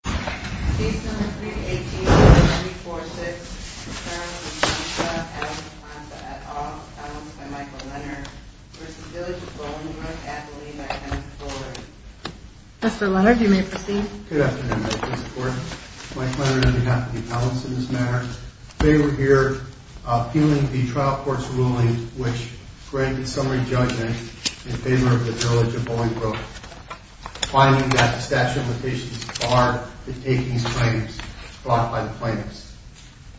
Case number 3-18-0346, Ferrari v. Village of Bollingbrook, Amponsah v. Village of Bollingbrook, Appellant Michael Leonard v. Village of Bollingbrook, Appellant Kenneth Fuller Mr. Leonard, you may proceed. Good afternoon, Mrs. Court. Michael Leonard on behalf of the appellants in this matter. They were here appealing the trial court's ruling which granted summary judgment in favor of the Village of Bollingbrook. Finding that the statute of limitations barred the taking of claims brought by the plaintiffs.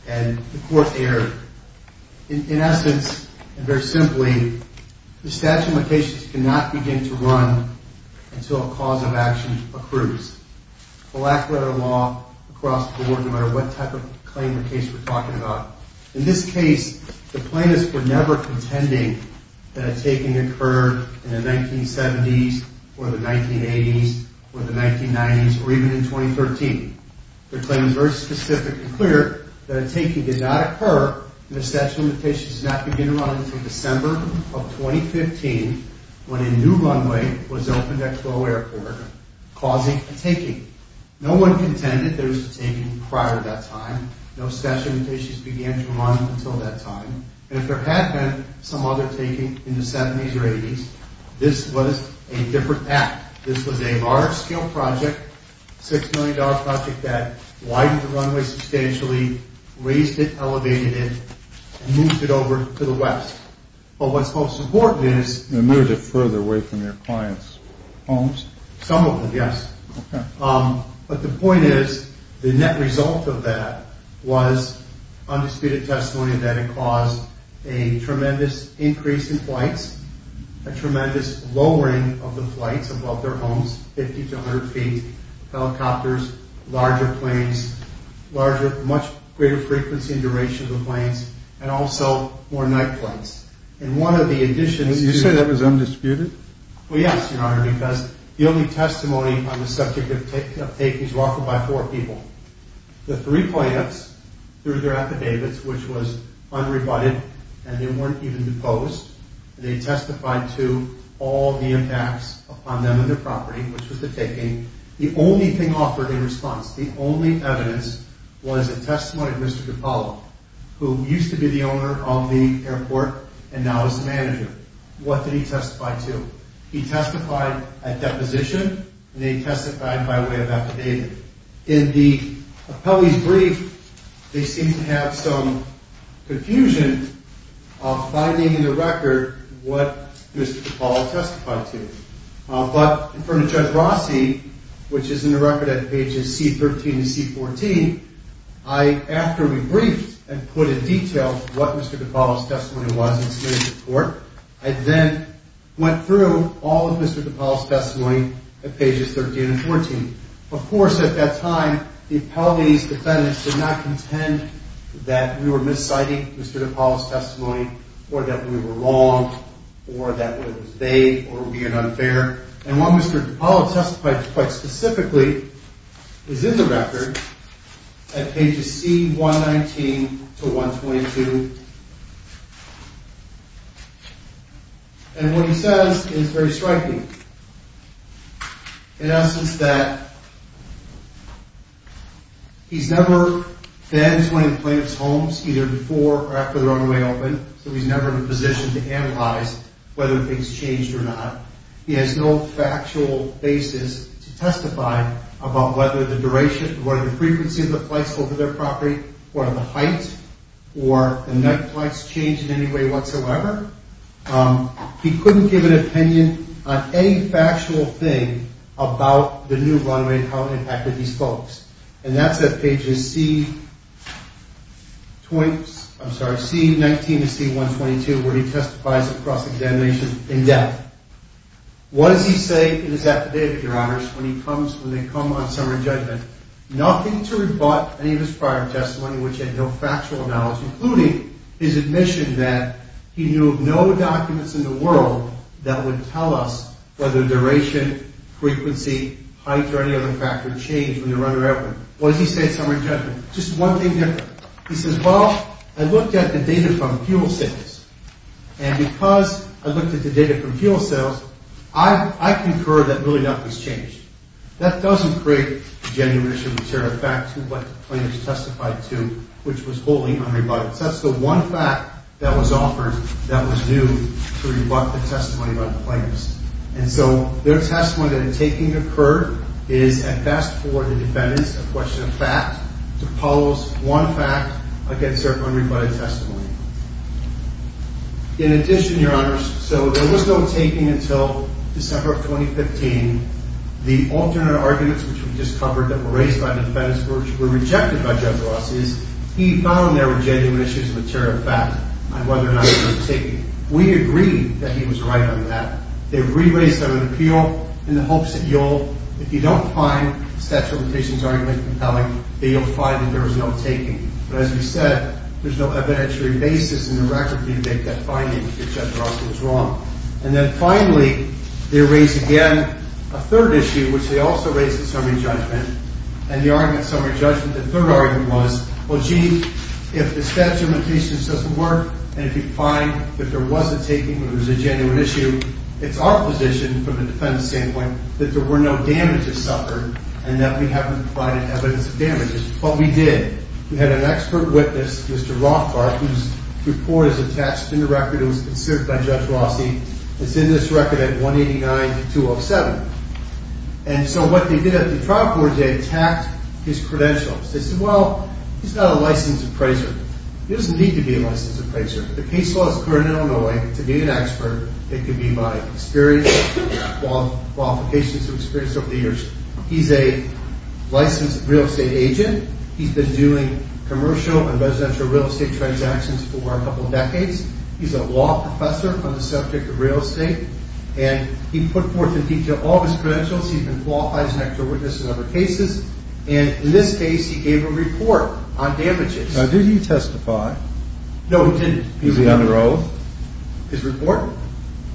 And the court erred. In essence, and very simply, the statute of limitations cannot begin to run until a cause of action accrues. The lack of a law across the board, no matter what type of claim or case we're talking about. In this case, the plaintiffs were never contending that a taking occurred in the 1970s, or the 1980s, or the 1990s, or even in 2013. Their claim is very specific and clear that a taking did not occur and the statute of limitations did not begin to run until December of 2015 when a new runway was opened at Crowe Airport causing a taking. No one contended there was a taking prior to that time. No statute of limitations began to run until that time. And if there had been some other taking in the 70s or 80s, this was a different app. This was a large-scale project, a $6 million project that widened the runway substantially, raised it, elevated it, and moved it over to the west. But what's most important is... And moved it further away from your clients' homes? Some of them, yes. But the point is, the net result of that was undisputed testimony that it caused a tremendous increase in flights, a tremendous lowering of the flights above their homes 50 to 100 feet, helicopters, larger planes, much greater frequency and duration of the planes, and also more night flights. And one of the additions... You say that was undisputed? Well, yes, Your Honor, because the only testimony on the subject of takings was offered by four people. The three plaintiffs threw their affidavits, which was unrebutted, and they weren't even deposed. They testified to all the impacts upon them and their property, which was the taking. The only thing offered in response, the only evidence, was a testimony of Mr. Capallo, who used to be the owner of the airport and now is the manager. What did he testify to? He testified at deposition, and they testified by way of affidavit. In the appellee's brief, they seem to have some confusion of finding in the record what Mr. Capallo testified to. But from Judge Rossi, which is in the record at pages C13 and C14, after we briefed and put in detail what Mr. Capallo's testimony was and submitted to court, I then went through all of Mr. Capallo's testimony at pages 13 and 14. Of course, at that time, the appellee's defendants did not contend that we were misciting Mr. Capallo's testimony or that we were wrong or that it was vague or unfair. And what Mr. Capallo testified to, quite specifically, is in the record at pages C119 to 122. And what he says is very striking. In essence, that he's never been to any of the plaintiff's homes, either before or after the runway opened, so he's never been positioned to analyze whether things changed or not. He has no factual basis to testify about whether the frequency of the flights over their property or the height or the night flights changed in any way whatsoever. He couldn't give an opinion on any factual thing about the new runway and how it impacted these folks. And that's at pages C19 to C122, where he testifies across examinations in depth. What does he say in his affidavit, Your Honors, when they come on summary judgment? Nothing to rebut any of his prior testimony, which had no factual knowledge, including his admission that he knew of no documents in the world that would tell us whether duration, frequency, height, or any other factor changed when the runway opened. What does he say in summary judgment? Just one thing different. He says, well, I looked at the data from fuel sales, and because I looked at the data from fuel sales, I concur that really nothing's changed. That doesn't create genuineness or material fact to what the plaintiff's testified to, which was wholly unrebutted. That's the one fact that was offered that was due to rebut the testimony by the plaintiffs. And so their testimony that in taking occurred is at best for the defendants a question of fact to pose one fact against their unrebutted testimony. In addition, Your Honors, so there was no taking until December of 2015. The alternate arguments which we just covered that were raised by the defendants were rejected by Judge Ross is he found there were genuine issues of material fact on whether or not there was a taking. We agree that he was right on that. They re-raised them in appeal in the hopes that you'll, if you don't find the statute of limitations argument compelling, that you'll find that there was no taking. But as we said, there's no evidentiary basis in the record to make that finding that Judge Ross was wrong. And then finally, they raised again a third issue, which they also raised in summary judgment, and the argument in summary judgment, the third argument was, well, gee, if the statute of limitations doesn't work, and if you find that there was a taking or there was a genuine issue, it's our position from the defendant's standpoint that there were no damages suffered and that we haven't provided evidence of damages. But we did. We had an expert witness, Mr. Rothbard, whose report is attached in the record. It was considered by Judge Ross. It's in this record at 189-207. And so what they did at the trial board, they attacked his credentials. They said, well, he's not a licensed appraiser. He doesn't need to be a licensed appraiser. The case law is current in Illinois. To be an expert, it could be by experience, qualifications, or experience over the years. He's a licensed real estate agent. He's been doing commercial and residential real estate transactions for a couple of decades. He's a law professor on the subject of real estate, and he put forth in detail all of his credentials. He's been qualified as an expert witness in other cases, and in this case he gave a report on damages. Now, did he testify? No, he didn't. Is he under oath? His report?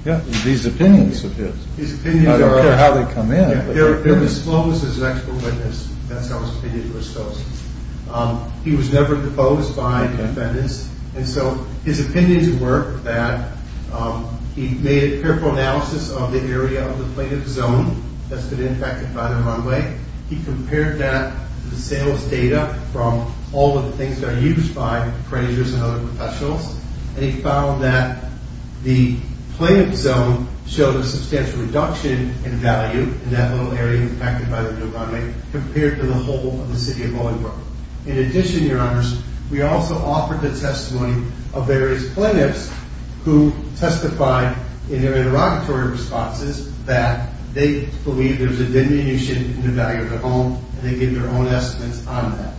Yeah, these opinions of his. I don't care how they come in. They're disclosed as an expert witness. That's how his opinion was disclosed. He was never deposed by defendants, and so his opinions were that he made a careful analysis of the area of the plaintiff's zone that's been impacted by the runway. He compared that to the sales data from all of the things that are used by appraisers and other professionals, and he found that the plaintiff's zone showed a substantial reduction in value in that little area impacted by the new runway compared to the whole of the city of Williamsburg. In addition, Your Honors, we also offered the testimony of various plaintiffs who testified in their interrogatory responses that they believed there was a diminution in the value of the home, and they gave their own estimates on that.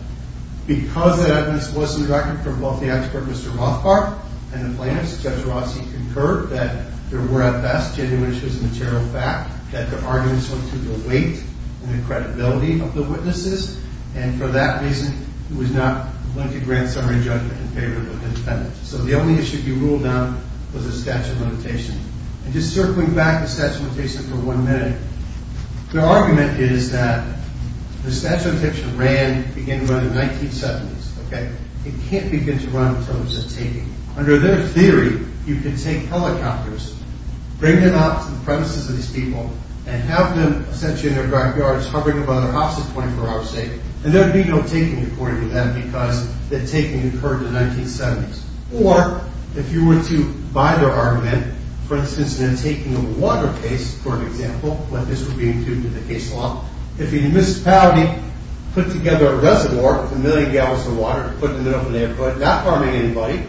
Because the evidence was in record from both the expert Mr. Rothbard and the plaintiffs, Judge Rossi concurred that there were, at best, genuineness as a material fact, that the arguments were to the weight and the credibility of the witnesses, and for that reason, it was not going to grant summary judgment in favor of the defendants. So the only issue to be ruled out was the statute of limitations. And just circling back the statute of limitations for one minute, the argument is that the statute of limitations began to run in the 1970s. It can't begin to run until it's a taking. Under their theory, you can take helicopters, bring them out to the premises of these people, and have them essentially in their backyards hovering about their houses 24 hours a day. And there would be no taking according to them because the taking occurred in the 1970s. Or, if you were to buy their argument, for instance, in a taking of a water case, for example, when this would be included in the case law, if the municipality put together a reservoir with a million gallons of water to put in the middle of an airport, not harming anybody,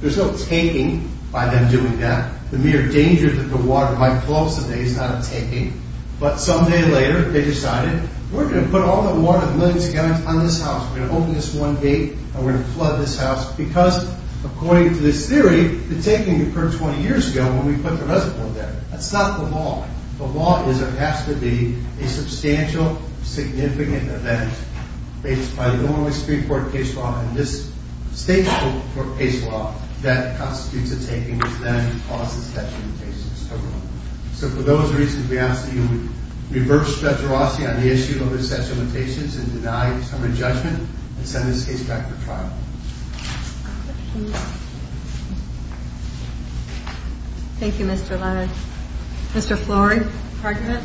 there's no taking by them doing that. The mere danger that the water might flow up to them is not a taking. But some day later, they decided, we're going to put all the water with millions of gallons on this house, we're going to open this one gate, and we're going to flood this house, because according to this theory, the taking occurred 20 years ago when we put the reservoir there. That's not the law. The law is there has to be a substantial, significant event based by the Illinois Supreme Court case law and this state court case law that constitutes a taking, which then causes such limitations. So for those reasons, we ask that you reverse speculosity on the issue of such limitations and deny your term of judgment and send this case back for trial. Thank you, Mr. Leonard. Mr. Florey? Pardon me?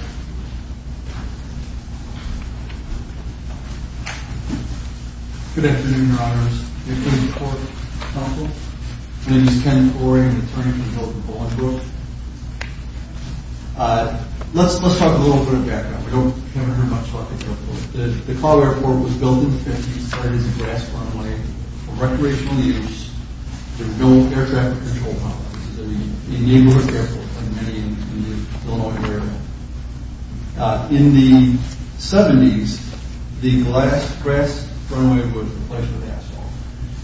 Good afternoon, Your Honors. The Supreme Court Counsel. My name is Ken Florey. I'm the attorney for Hilton Boland Brook. Let's talk a little bit of background. We haven't heard much about the airport. The Cobb Airport was built in the 50s. It started as a gas runway for recreational use. There was no air traffic control complex. This is a neighborhood airport, like many in the Illinois area. In the 70s, the grass runway was replaced with asphalt.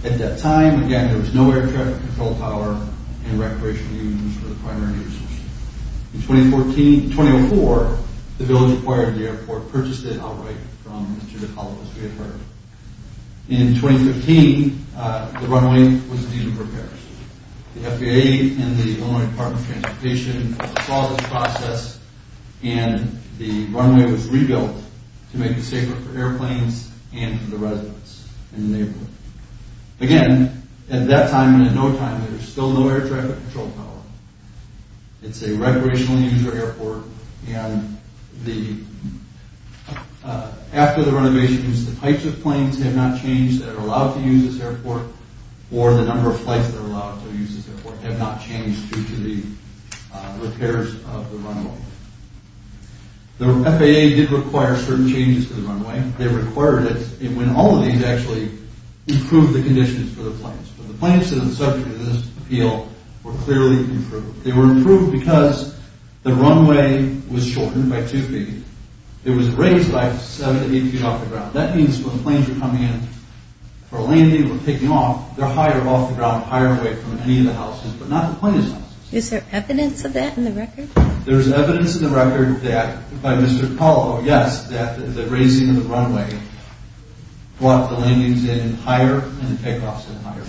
At that time, again, there was no air traffic control tower and recreational use for the primary users. In 2004, the building acquired the airport, purchased it outright from Mr. DeCarlo, as we have heard. In 2015, the runway was deemed for repairs. The FAA and the Illinois Department of Transportation saw this process, and the runway was rebuilt to make it safer for airplanes and for the residents in the neighborhood. Again, at that time and at no time, there was still no air traffic control tower. It's a recreational user airport, and after the renovations, the types of planes have not changed that are allowed to use this airport or the number of flights that are allowed to use this airport have not changed due to the repairs of the runway. The FAA did require certain changes to the runway. They required it when all of these actually improved the conditions for the planes. The planes that are subject to this appeal were clearly improved. They were improved because the runway was shortened by 2 feet. It was raised by 7 to 8 feet off the ground. That means when planes are coming in for landing or taking off, they're higher off the ground, higher away from any of the houses, but not the plane's houses. Is there evidence of that in the record? There's evidence in the record that, by Mr. DeCarlo, yes, that the raising of the runway brought the landings in higher and the takeoffs in higher.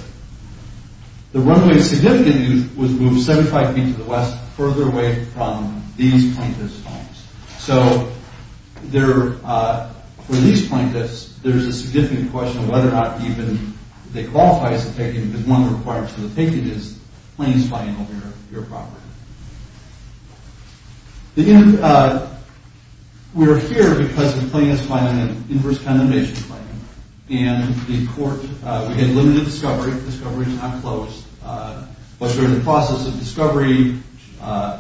The runway significantly was moved 75 feet to the west, further away from these plaintiff's homes. So for these plaintiffs, there's a significant question of whether or not even they qualify as a take-in because one of the requirements for the take-in is planes flying over your property. We're here because the plane is flying an inverse condemnation claim. And the court, we had limited discovery. The discovery was not closed. But during the process of discovery, the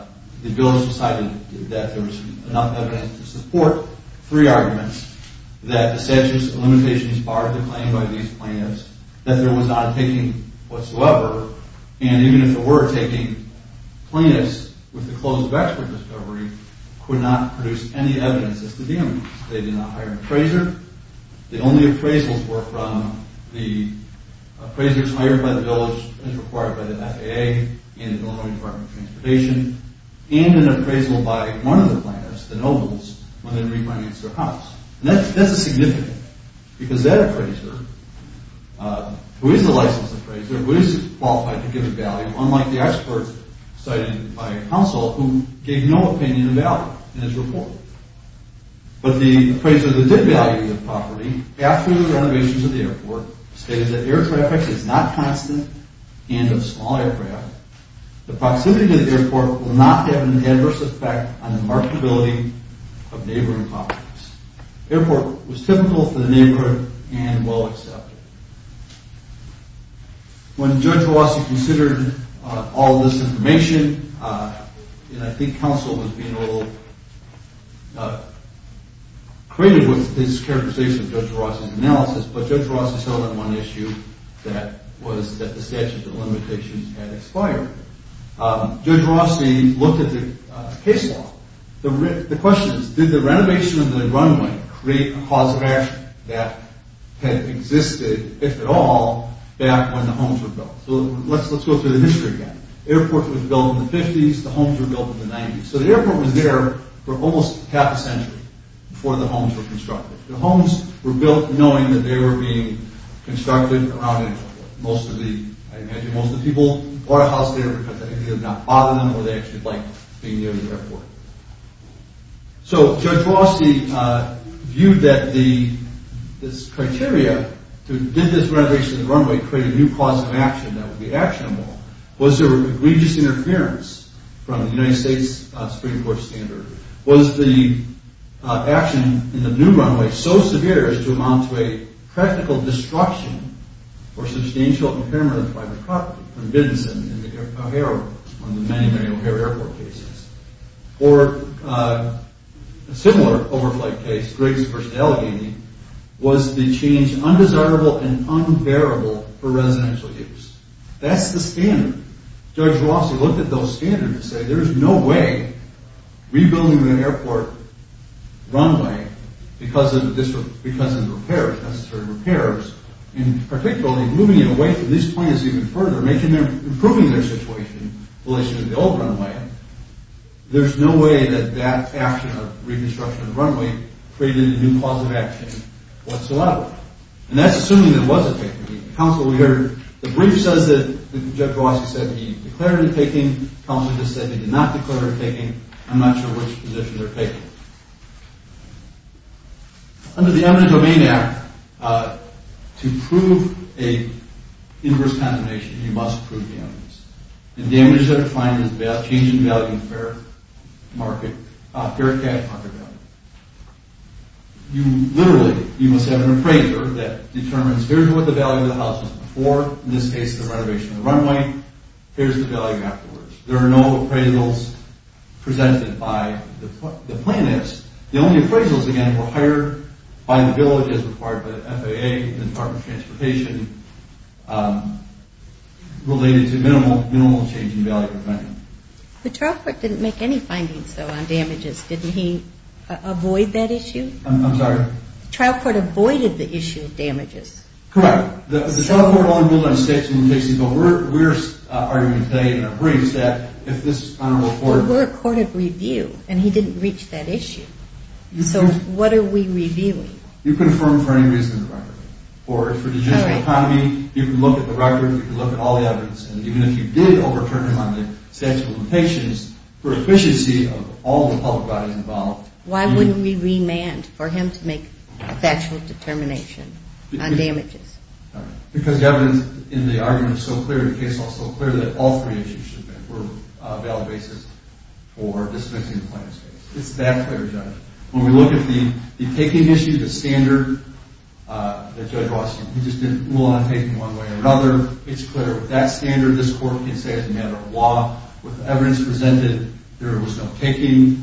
village decided that there was enough evidence to support three arguments that the statute of limitations barred the claim by these plaintiffs, that there was not a take-in whatsoever, and even if there were a take-in, plaintiffs, with the close of expert discovery, could not produce any evidence as to the evidence. They did not hire an appraiser. The only appraisals were from the appraisers hired by the village as required by the FAA and the Illinois Department of Transportation and an appraisal by one of the plaintiffs, the nobles, when they refinanced their house. And that's significant because that appraiser, who is a licensed appraiser, who is qualified to give a value, unlike the expert cited by counsel, who gave no opinion of value in his report. But the appraiser that did value the property, after the renovations of the airport, stated that air traffic is not constant and of small aircraft. The proximity to the airport will not have an adverse effect on the marketability of neighboring properties. The airport was typical for the neighborhood and well accepted. When Judge Rossi considered all this information, and I think counsel was being a little creative with his characterization of Judge Rossi's analysis, but Judge Rossi settled on one issue that was that the statute of limitations had expired. Judge Rossi looked at the case law. The question is, did the renovation of the runway create a cause of action that had existed, if at all, back when the homes were built? So let's go through the history again. The airport was built in the 50s, the homes were built in the 90s. So the airport was there for almost half a century before the homes were constructed. The homes were built knowing that they were being constructed around it. I imagine most of the people bought a house there because they either did not bother them or they actually liked being near the airport. So Judge Rossi viewed that this criteria, did this renovation of the runway create a new cause of action that would be actionable? Was there egregious interference from the United States Supreme Court standard? Was the action in the new runway so severe as to amount to a practical destruction or substantial impairment of private property? One of the many, many O'Hare Airport cases. Or a similar overflight case, Griggs v. Allegheny, was the change undesirable and unbearable for residential use. That's the standard. Judge Rossi looked at those standards and said, there is no way rebuilding the airport runway because of the necessary repairs, and particularly moving it away from these plans even further, improving their situation in relation to the old runway, there's no way that that action of reconstruction of the runway created a new cause of action whatsoever. And that's assuming there was a taking. The brief says that Judge Rossi said he declared a taking. Collins just said he did not declare a taking. I'm not sure which position they're taking. Under the Eminent Domain Act, to prove an inverse condemnation, you must prove the eminence. The damage that it finds is a change in value of fair market value. You literally, you must have an appraiser that determines, here's what the value of the house was before, in this case the renovation of the runway, here's the value afterwards. There are no appraisals presented by the planners. The only appraisals, again, were hired by the village as part of the FAA, the Department of Transportation, related to minimal change in value. The trial court didn't make any findings, though, on damages. Didn't he avoid that issue? I'm sorry? The trial court avoided the issue of damages. Correct. The trial court only ruled on statutes and limitations, but we're arguing today in our briefs that if this is honorable court... But we're a court of review, and he didn't reach that issue. So what are we reviewing? You confirm for any reason the record. For the judicial economy, you can look at the record, you can look at all the evidence, and even if you did overturn him on the statutes and limitations, for efficiency of all the public bodies involved... Why wouldn't we remand for him to make a factual determination on damages? Because the evidence in the argument is so clear, and the case law is so clear, that all three issues should have been valid basis for dismissing the plaintiff's case. It's that clear, Judge. When we look at the kicking issue, the standard that Judge Washington... He just didn't rule on kicking one way or another. It's clear with that standard, this court can say as a matter of law, with the evidence presented, there was no kicking.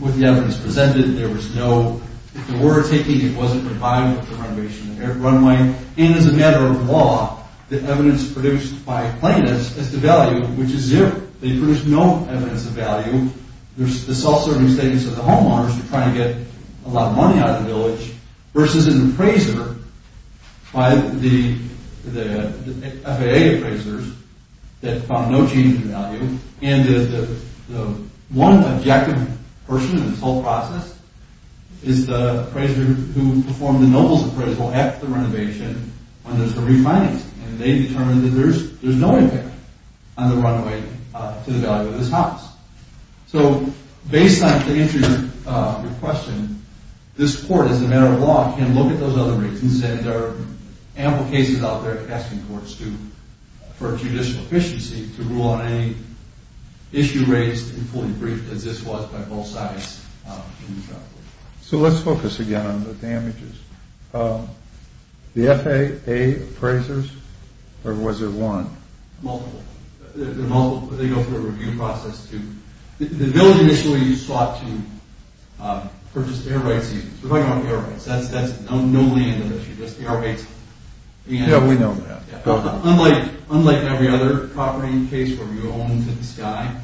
With the evidence presented, there was no... If there were kicking, it wasn't reviving the renovation of the runway. And as a matter of law, the evidence produced by plaintiffs is devalued, which is zero. They produced no evidence of value. There's the self-serving statements of the homeowners who are trying to get a lot of money out of the village, versus an appraiser by the FAA appraisers that found no change in value. And the one objective person in this whole process is the appraiser who performed the nobles appraisal at the renovation when there's a refinance. And they determined that there's no impact on the runway to the value of this house. So, based on, to answer your question, this court, as a matter of law, can look at those other reasons and there are ample cases out there asking courts for judicial efficiency to rule on any issue raised and fully briefed, as this was by both sides. So, let's focus again on the damages. The FAA appraisers, or was there one? Multiple. They go through a review process to... The village initially sought to purchase air rights. We're talking about air rights. That's the only end of the issue, just air rights. Yeah, we know that. Unlike every other property case where we go home to the sky,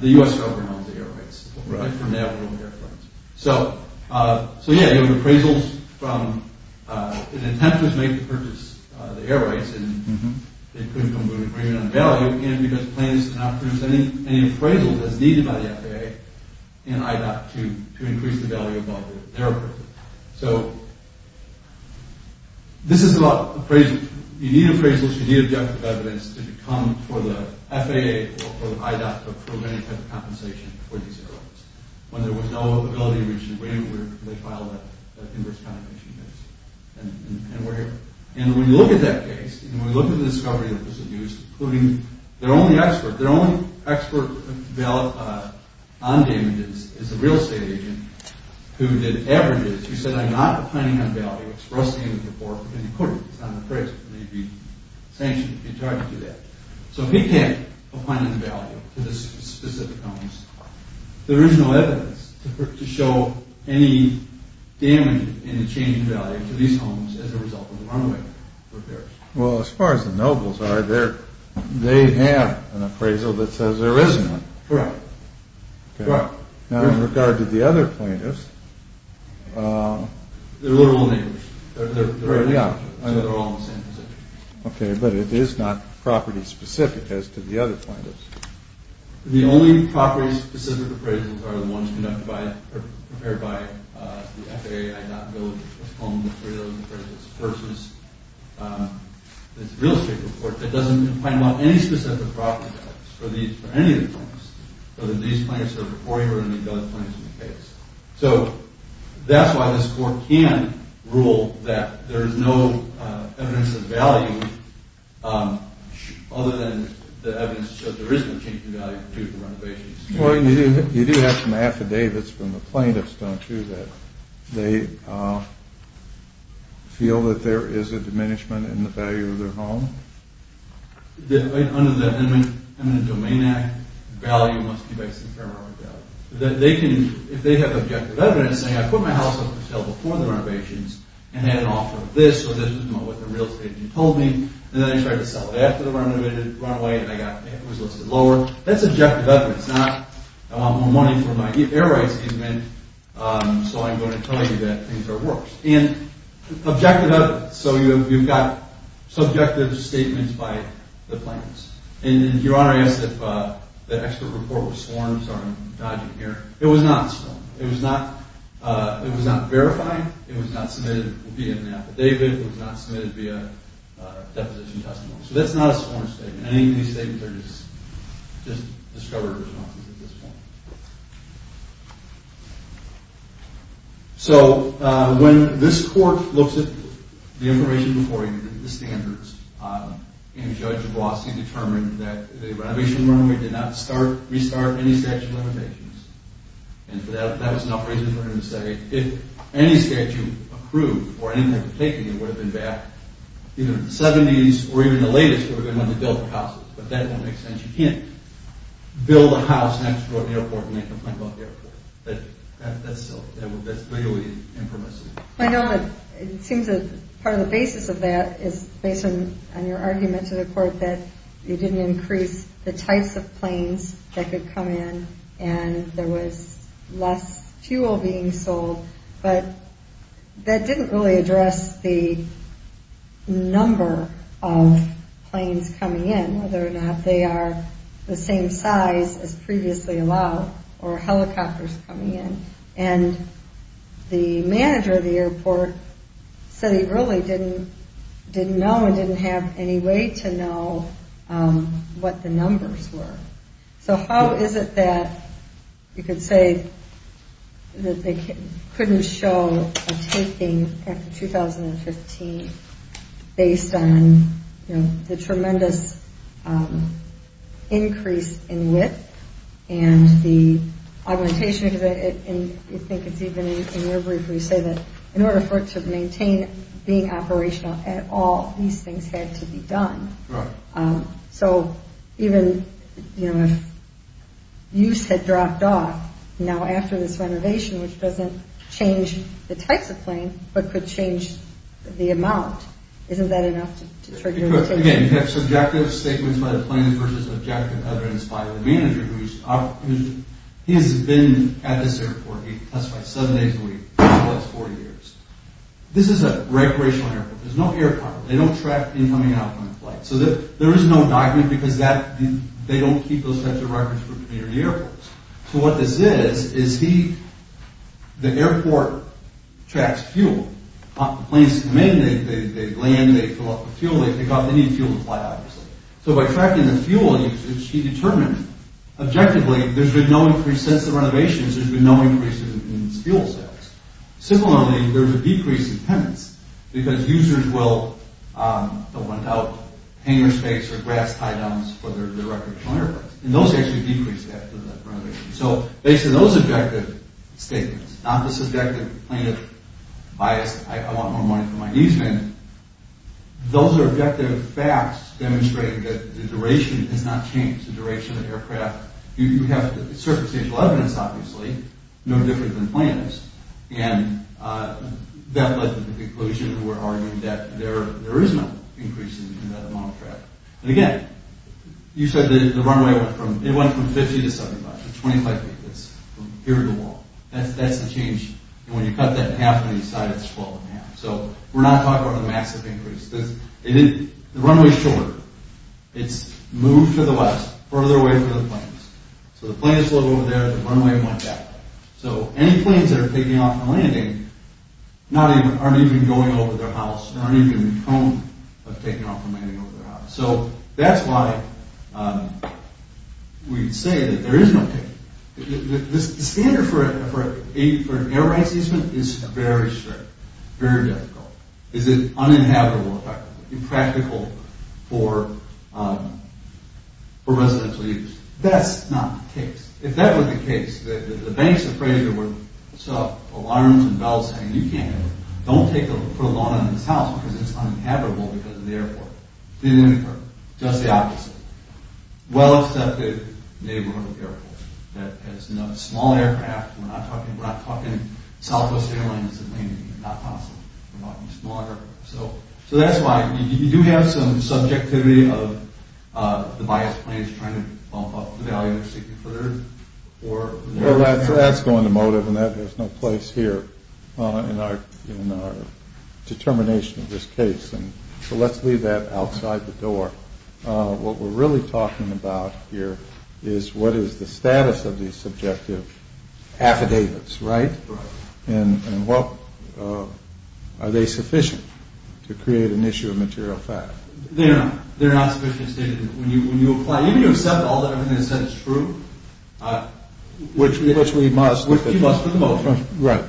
the U.S. government owns the air rights. Right. So, yeah, there were appraisals from... An attempt was made to purchase the air rights and they couldn't come to an agreement on value, and because the plaintiffs did not produce any appraisals as needed by the FAA and IDOT to increase the value of their appraisal. So, this is about appraisals. You need appraisals, you need objective evidence, to become, for the FAA or IDOT, a preliminary type of compensation for these air rights, when there was no ability to reach an agreement where they filed that inverse kind of issue. And we're here. And when you look at that case, and we look at the discovery that was used, including their only expert, their only expert on damages is a real estate agent who did averages, who said, I'm not opining on value, express damage report, and he couldn't. He's not an appraiser. He'd be sanctioned if he tried to do that. So, he can't opine on the value to these specific homes. There is no evidence to show any damage, any change in value to these homes as a result of the runway repairs. Well, as far as the nobles are, they have an appraisal that says there isn't one. Correct. Now, in regard to the other plaintiffs... They're all neighbors. So, they're all in the same position. Okay, but it is not property-specific, as to the other plaintiffs. The only property-specific appraisals are the ones prepared by the FAA, I'd not build a home with three of those appraisals, versus this real estate report that doesn't opine on any specific property values for any of the plaintiffs, whether these plaintiffs are reporting or any of the other plaintiffs in the case. So, that's why this court can rule that there is no evidence of value other than the evidence that there is no change in value due to renovations. Well, you do have some affidavits from the plaintiffs, don't you, that they feel that there is a diminishment in the value of their home? Under the Eminent Domain Act, value must be based on paramount value. If they have objective evidence, saying, I put my house up for sale before the renovations, and they had an offer of this, so this is what the real estate agent told me, and then they tried to sell it after the renovated runaway, and it was listed lower, that's objective evidence. It's not, I want more money for my air rights amendment, so I'm going to tell you that things are worse. And, objective evidence. So, you've got subjective statements by the plaintiffs. And, Your Honor, I asked if the expert report was sworn, so I'm dodging here. It was not sworn. It was not verified. It was not submitted via an affidavit. It was not submitted via deposition testimony. So, that's not a sworn statement. Any of these statements are just discovered responses at this point. So, when this court looks at the information before you, the standards, and Judge Vlasky determined that the renovation runaway did not restart any statute of limitations, and that was enough reason for him to say, if any statute approved, or anything had been taken, it would have been back, even in the 70s, or even the latest, it would have been one to build the houses. But, that doesn't make sense. You can't build a house next to an airport and make a complaint about the airport. That's silly. That's legally impermissible. I know that it seems that part of the basis of that is based on your argument to the court that you didn't increase the types of planes that could come in, and there was less fuel being sold. But, that didn't really address the number of planes coming in, whether or not they are the same size as previously allowed, or helicopters coming in. And, the manager of the airport said he really didn't know and didn't have any way to know what the numbers were. So, how is it that you could say that they couldn't show a taping after 2015, based on the tremendous increase in width, and the augmentation of it, and I think it's even in your brief where you say that in order for it to maintain being operational at all, these things had to be done. So, even if use had dropped off, now after this renovation, which doesn't change the types of planes, but could change the amount, isn't that enough to trigger a mutation? Again, you have subjective statements by the planes versus objective evidence by the manager, who has been at this airport, being testified seven days a week, for the last 40 years. This is a recreational airport. There's no air power. They don't track incoming and outcoming flights. So, there is no document, because they don't keep those types of records for community airports. So, what this is, is the airport tracks fuel. The planes come in, they land, they fill up with fuel, they take off, they need fuel to fly, obviously. So, by tracking the fuel usage, he determined, objectively, there's been no increase since the renovations, there's been no increase in fuel sales. Similarly, there's a decrease in penance, because users will want out hangar space or grass tie downs for their recreational airports. And those actually decrease after the renovation. So, based on those objective statements, not the subjective plaintiff bias, I want more money for my easement. Those are objective facts demonstrating that the duration has not changed, the duration of aircraft. You have the circumstantial evidence, obviously, no different than plaintiffs. And that led to the conclusion, we're arguing that there is no increase in that amount of traffic. And again, you said the runway went from, it went from 50 to 75, so 25 feet, that's from here to the wall. That's the change. And when you cut that in half, when you decide it's 12 and a half. So, we're not talking about a massive increase. The runway's shorter. It's moved to the west, further away from the planes. So, the planes flew over there, the runway went that way. So, any planes that are taking off and landing, aren't even going over their house, aren't even in the tone of taking off and landing over their house. So, that's why we say that there is no change. The standard for an air rights easement is very strict, very difficult. Is it uninhabitable effectively, impractical for residential use? That's not the case. If that were the case, the banks of Frazier would set up alarms and bells saying, you can't have it, don't put a law on this house because it's uninhabitable because of the airport. Just the opposite. Well accepted neighborhood of airports. That has enough small aircraft. We're not talking Southwest Airlines that's not possible. We're talking smaller. So, that's why you do have some subjectivity of the biased planes trying to bump up the value of safety for the earth. That's going to motive and there's no place here in our determination of this case. So, let's leave that outside the door. What we're really talking about here is what is the status of these subjective affidavits, right? And are they sufficient to create an issue of material fact? They're not. They're not sufficiently stated. When you apply, even if you accept all that everything is said is true. Which we must. Which we must at the moment. Right.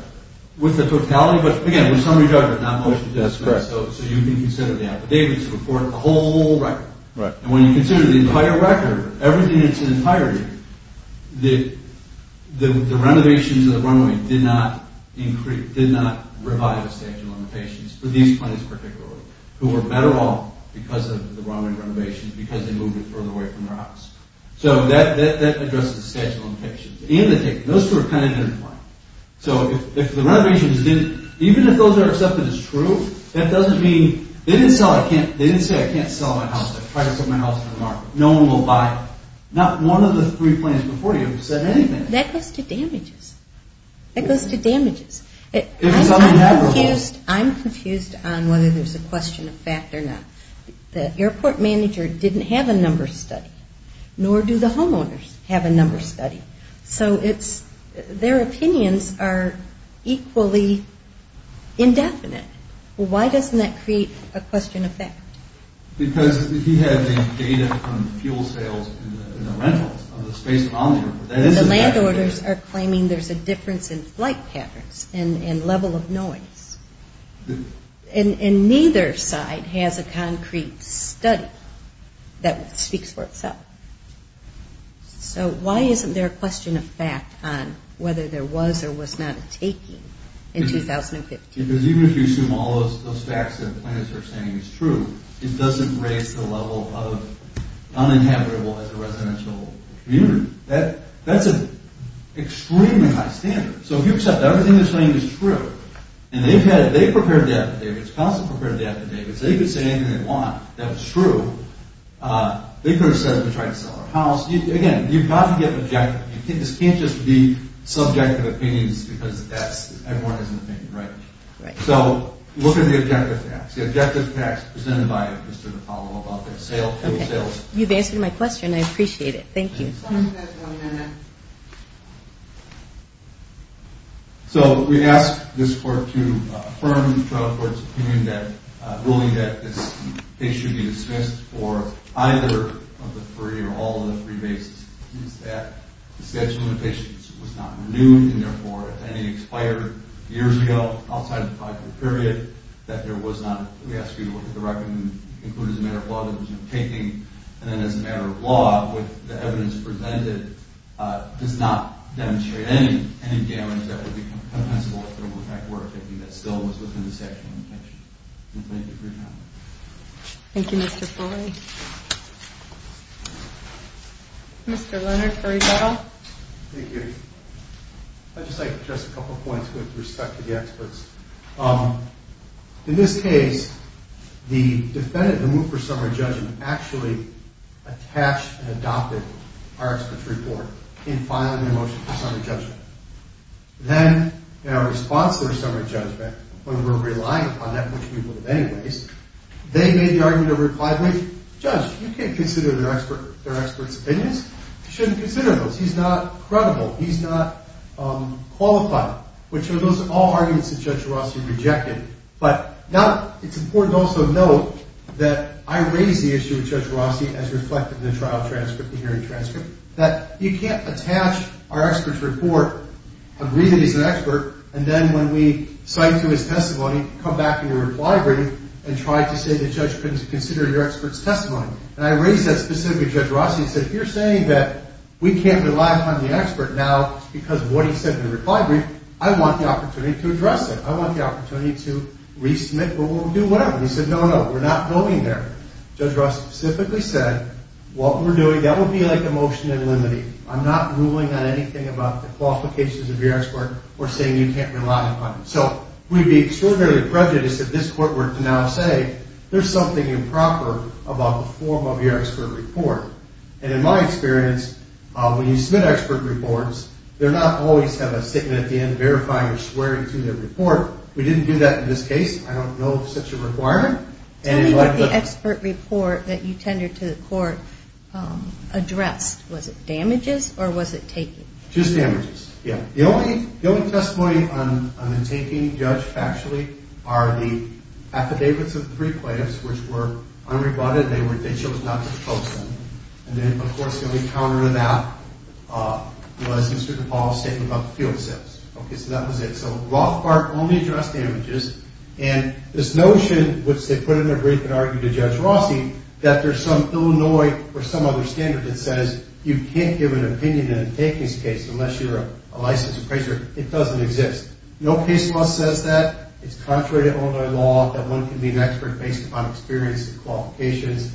With the totality, but again, with summary judgment, not motion to dismiss. That's correct. So, you can consider the affidavits to afford a whole record. And when you consider the entire record, everything that's in entirety, the renovations of the runway did not increase, did not revive the statute of limitations for these planes particularly who were better off because of the runway renovations because they moved it further away from their house. So, that addresses the statute of limitations. And the ticket. Those two are kind of different. So, if the renovations didn't, even if those are accepted as true, that doesn't mean, they didn't say I can't sell my house. I tried to sell my house on the market. No one will buy it. Not one of the three planes before you said anything. That goes to damages. That goes to damages. I'm confused on whether there's a question of fact or not. The airport manager didn't have a number study. Nor do the homeowners have a number study. So, it's, their opinions are equally indefinite. Well, why doesn't that create a question of fact? Because if you had the data from fuel sales and the rentals of the Space Bomber, that is a fact. The land orders are claiming there's a difference in flight patterns and level of noise. And neither side has a concrete study that speaks for itself. So, why isn't there a question of fact on whether there was or was not a taking in 2015? Because even if you assume all those facts that the planners are saying is true, it doesn't raise the level of uninhabitable as a residential community. That's an extremely high standard. So, if you accept everything they're saying is true, and they prepared the affidavits, Council prepared the affidavits, they could say anything they want. That was true. They could have said we're trying to sell our house. Again, you've got to get objective. This can't just be subjective opinions because everyone has an opinion, right? So, look at the objective facts. The objective facts presented by Mr. Napallo about the fuel sales. You've answered my question. I appreciate it. Thank you. So, we asked this court to affirm the trial court's opinion that, ruling that this case should be dismissed for either of the three or all of the three cases is that the statute of limitations was not renewed and, therefore, if any expired years ago outside of the five-year period, that there was not... We asked you to look at the record and include as a matter of law that there was no taking, and then as a matter of law, what the evidence presented does not demonstrate any damage that would be compensable if it still was within the statute of limitations. Thank you for your time. Thank you, Mr. Fuller. Mr. Leonard, for rebuttal. Thank you. I'd just like to address a couple of points with respect to the experts. In this case, the defendant, the move for summary judgment, actually attached and adopted our expert's report in filing a motion for summary judgment. Then, in our response to their summary judgment, when we were relying upon that, which we would have anyways, they made the argument or replied with, Judge, you can't consider their expert's opinions. You shouldn't consider those. He's not credible. He's not qualified, which are those are all arguments that Judge Rossi rejected, but now it's important to also note that I raise the issue with Judge Rossi as reflected in the trial transcript, the hearing transcript, that you can't attach our expert's report and agree that he's an expert, and then when we cite to his testimony, come back in your reply brief and try to say the judge couldn't consider your expert's testimony. And I raise that specifically to Judge Rossi and said, if you're saying that we can't rely upon the expert now because of what he said in the reply brief, I want the opportunity to address it. I want the opportunity to resubmit, but we'll do whatever. He said, no, no, we're not going there. Judge Rossi specifically said, what we're doing, that will be like a motion in limine. I'm not ruling on anything about the qualifications of your expert or saying you can't rely upon it. So we'd be extraordinarily prejudiced if this court were to now say there's something improper about the form of your expert report. And in my experience, when you submit expert reports, they're not always going to have a statement at the end verifying or swearing to the report. We didn't do that in this case. I don't know of such a requirement. Tell me what the expert report that you tendered to the court addressed. Was it damages or was it taken? Just damages, yeah. The only testimony on the taking, Judge, actually, are the affidavits of the three plaintiffs which were unrebutted. They chose not to propose them. And then, of course, the only counter to that was Mr. DePaul's statement about the field sales. Okay, so that was it. So Rothbard only addressed damages. And this notion, which they put in their brief and argued to Judge Rossi, that there's some Illinois or some other standard that says you can't give an opinion in a takings case unless you're a licensed appraiser. It doesn't exist. No case law says that. It's contrary to Illinois law that one can be an expert based upon experience and qualifications.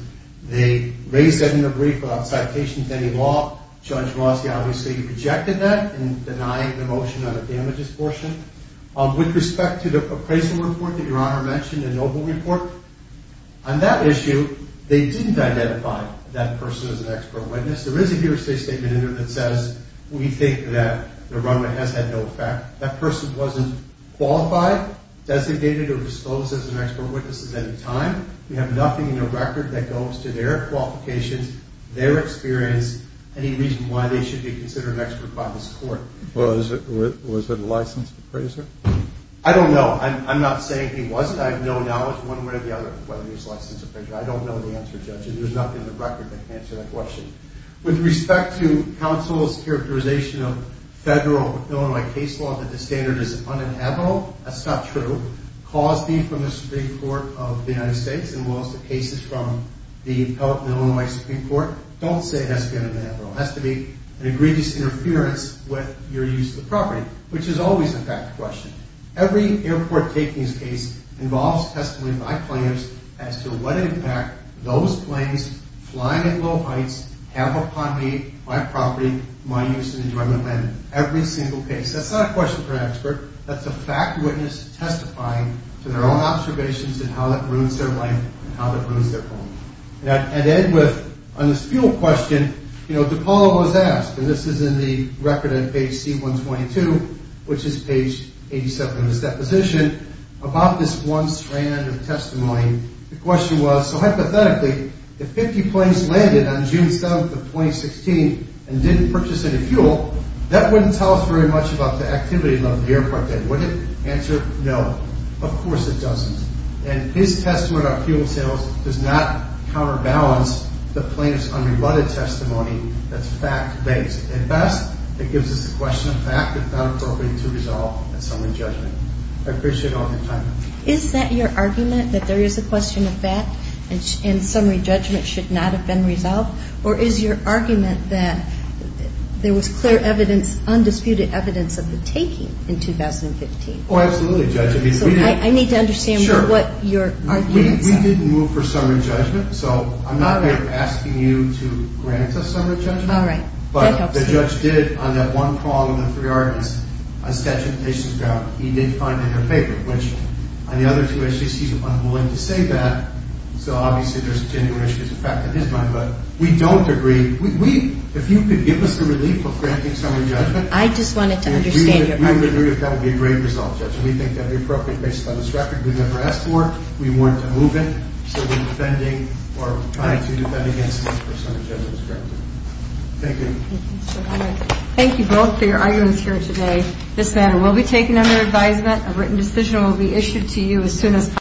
They raised that in their brief without citation to any law. Judge Rossi obviously rejected that in denying the motion on the damages portion. With respect to the appraisal report that Your Honor mentioned, the Noble report, on that issue, they didn't identify that person as an expert witness. There is a hearsay statement in there that says we think that the runaway has had no effect. That person wasn't qualified, designated, or disclosed as an expert witness at any time. We have nothing in the record that goes to their qualifications, their experience, any reason why they should be considered an expert by this court. Well, was it a licensed appraiser? I don't know. I'm not saying he wasn't. I have no knowledge one way or the other whether he was a licensed appraiser. I don't know the answer, Judge. And there's nothing in the record that can answer that question. With respect to counsel's characterization of federal Illinois case law that the standard is uninhabitable, that's not true. Clause B from the Supreme Court of the United States and most of the cases from the Illinois Supreme Court don't say it has to be uninhabitable. It has to be an egregious interference with your use of the property, which is always a fact question. Every airport takings case involves testimony by claimants as to what impact those planes flying at low heights have upon me, my property, my use and enjoyment land. Every single case. That's not a question for an expert. That's a fact witness testifying to their own observations and how that ruins their life and how that ruins their home. And then with on this fuel question, DePaulo was asked, and this is in the record on page C-122, which is page 87 of his deposition, about this one strand of testimony. The question was, so hypothetically, if 50 planes landed on June 7th of 2016 and didn't purchase any fuel, that wouldn't tell us very much about the activity above the airport, would it? Answer, no. Of course it doesn't. And his testimony on fuel sales does not counterbalance the plaintiff's unrebutted testimony that's fact-based. At best, it gives us a question of fact that's not appropriate to resolve in summary judgment. I appreciate all your time. Is that your argument, that there is a question of fact and summary judgment should not have been resolved? Or is your argument that there was clear evidence, undisputed evidence of the taking in 2015? Oh, absolutely, Judge. I need to understand what your arguments are. We didn't move for summary judgment, so I'm not asking you to grant us summary judgment. All right. That helps. But the judge did on that one prong of the three arguments on statute of limitations grounds. He did find in her paper, which on the other two issues, he's unwilling to say that so obviously there's a tenuous effect on his mind. But we don't agree. If you could give us the relief of granting summary judgment... But I just wanted to understand your point. We would agree if that would be a great result, Judge. We think that would be appropriate based on this record. We never asked for it. We weren't to move it. So we're defending or trying to defend against a summary judgment. Thank you. All right. Thank you both for your arguments here today. This matter will be taken under advisement. A written decision will be issued to you as soon as possible.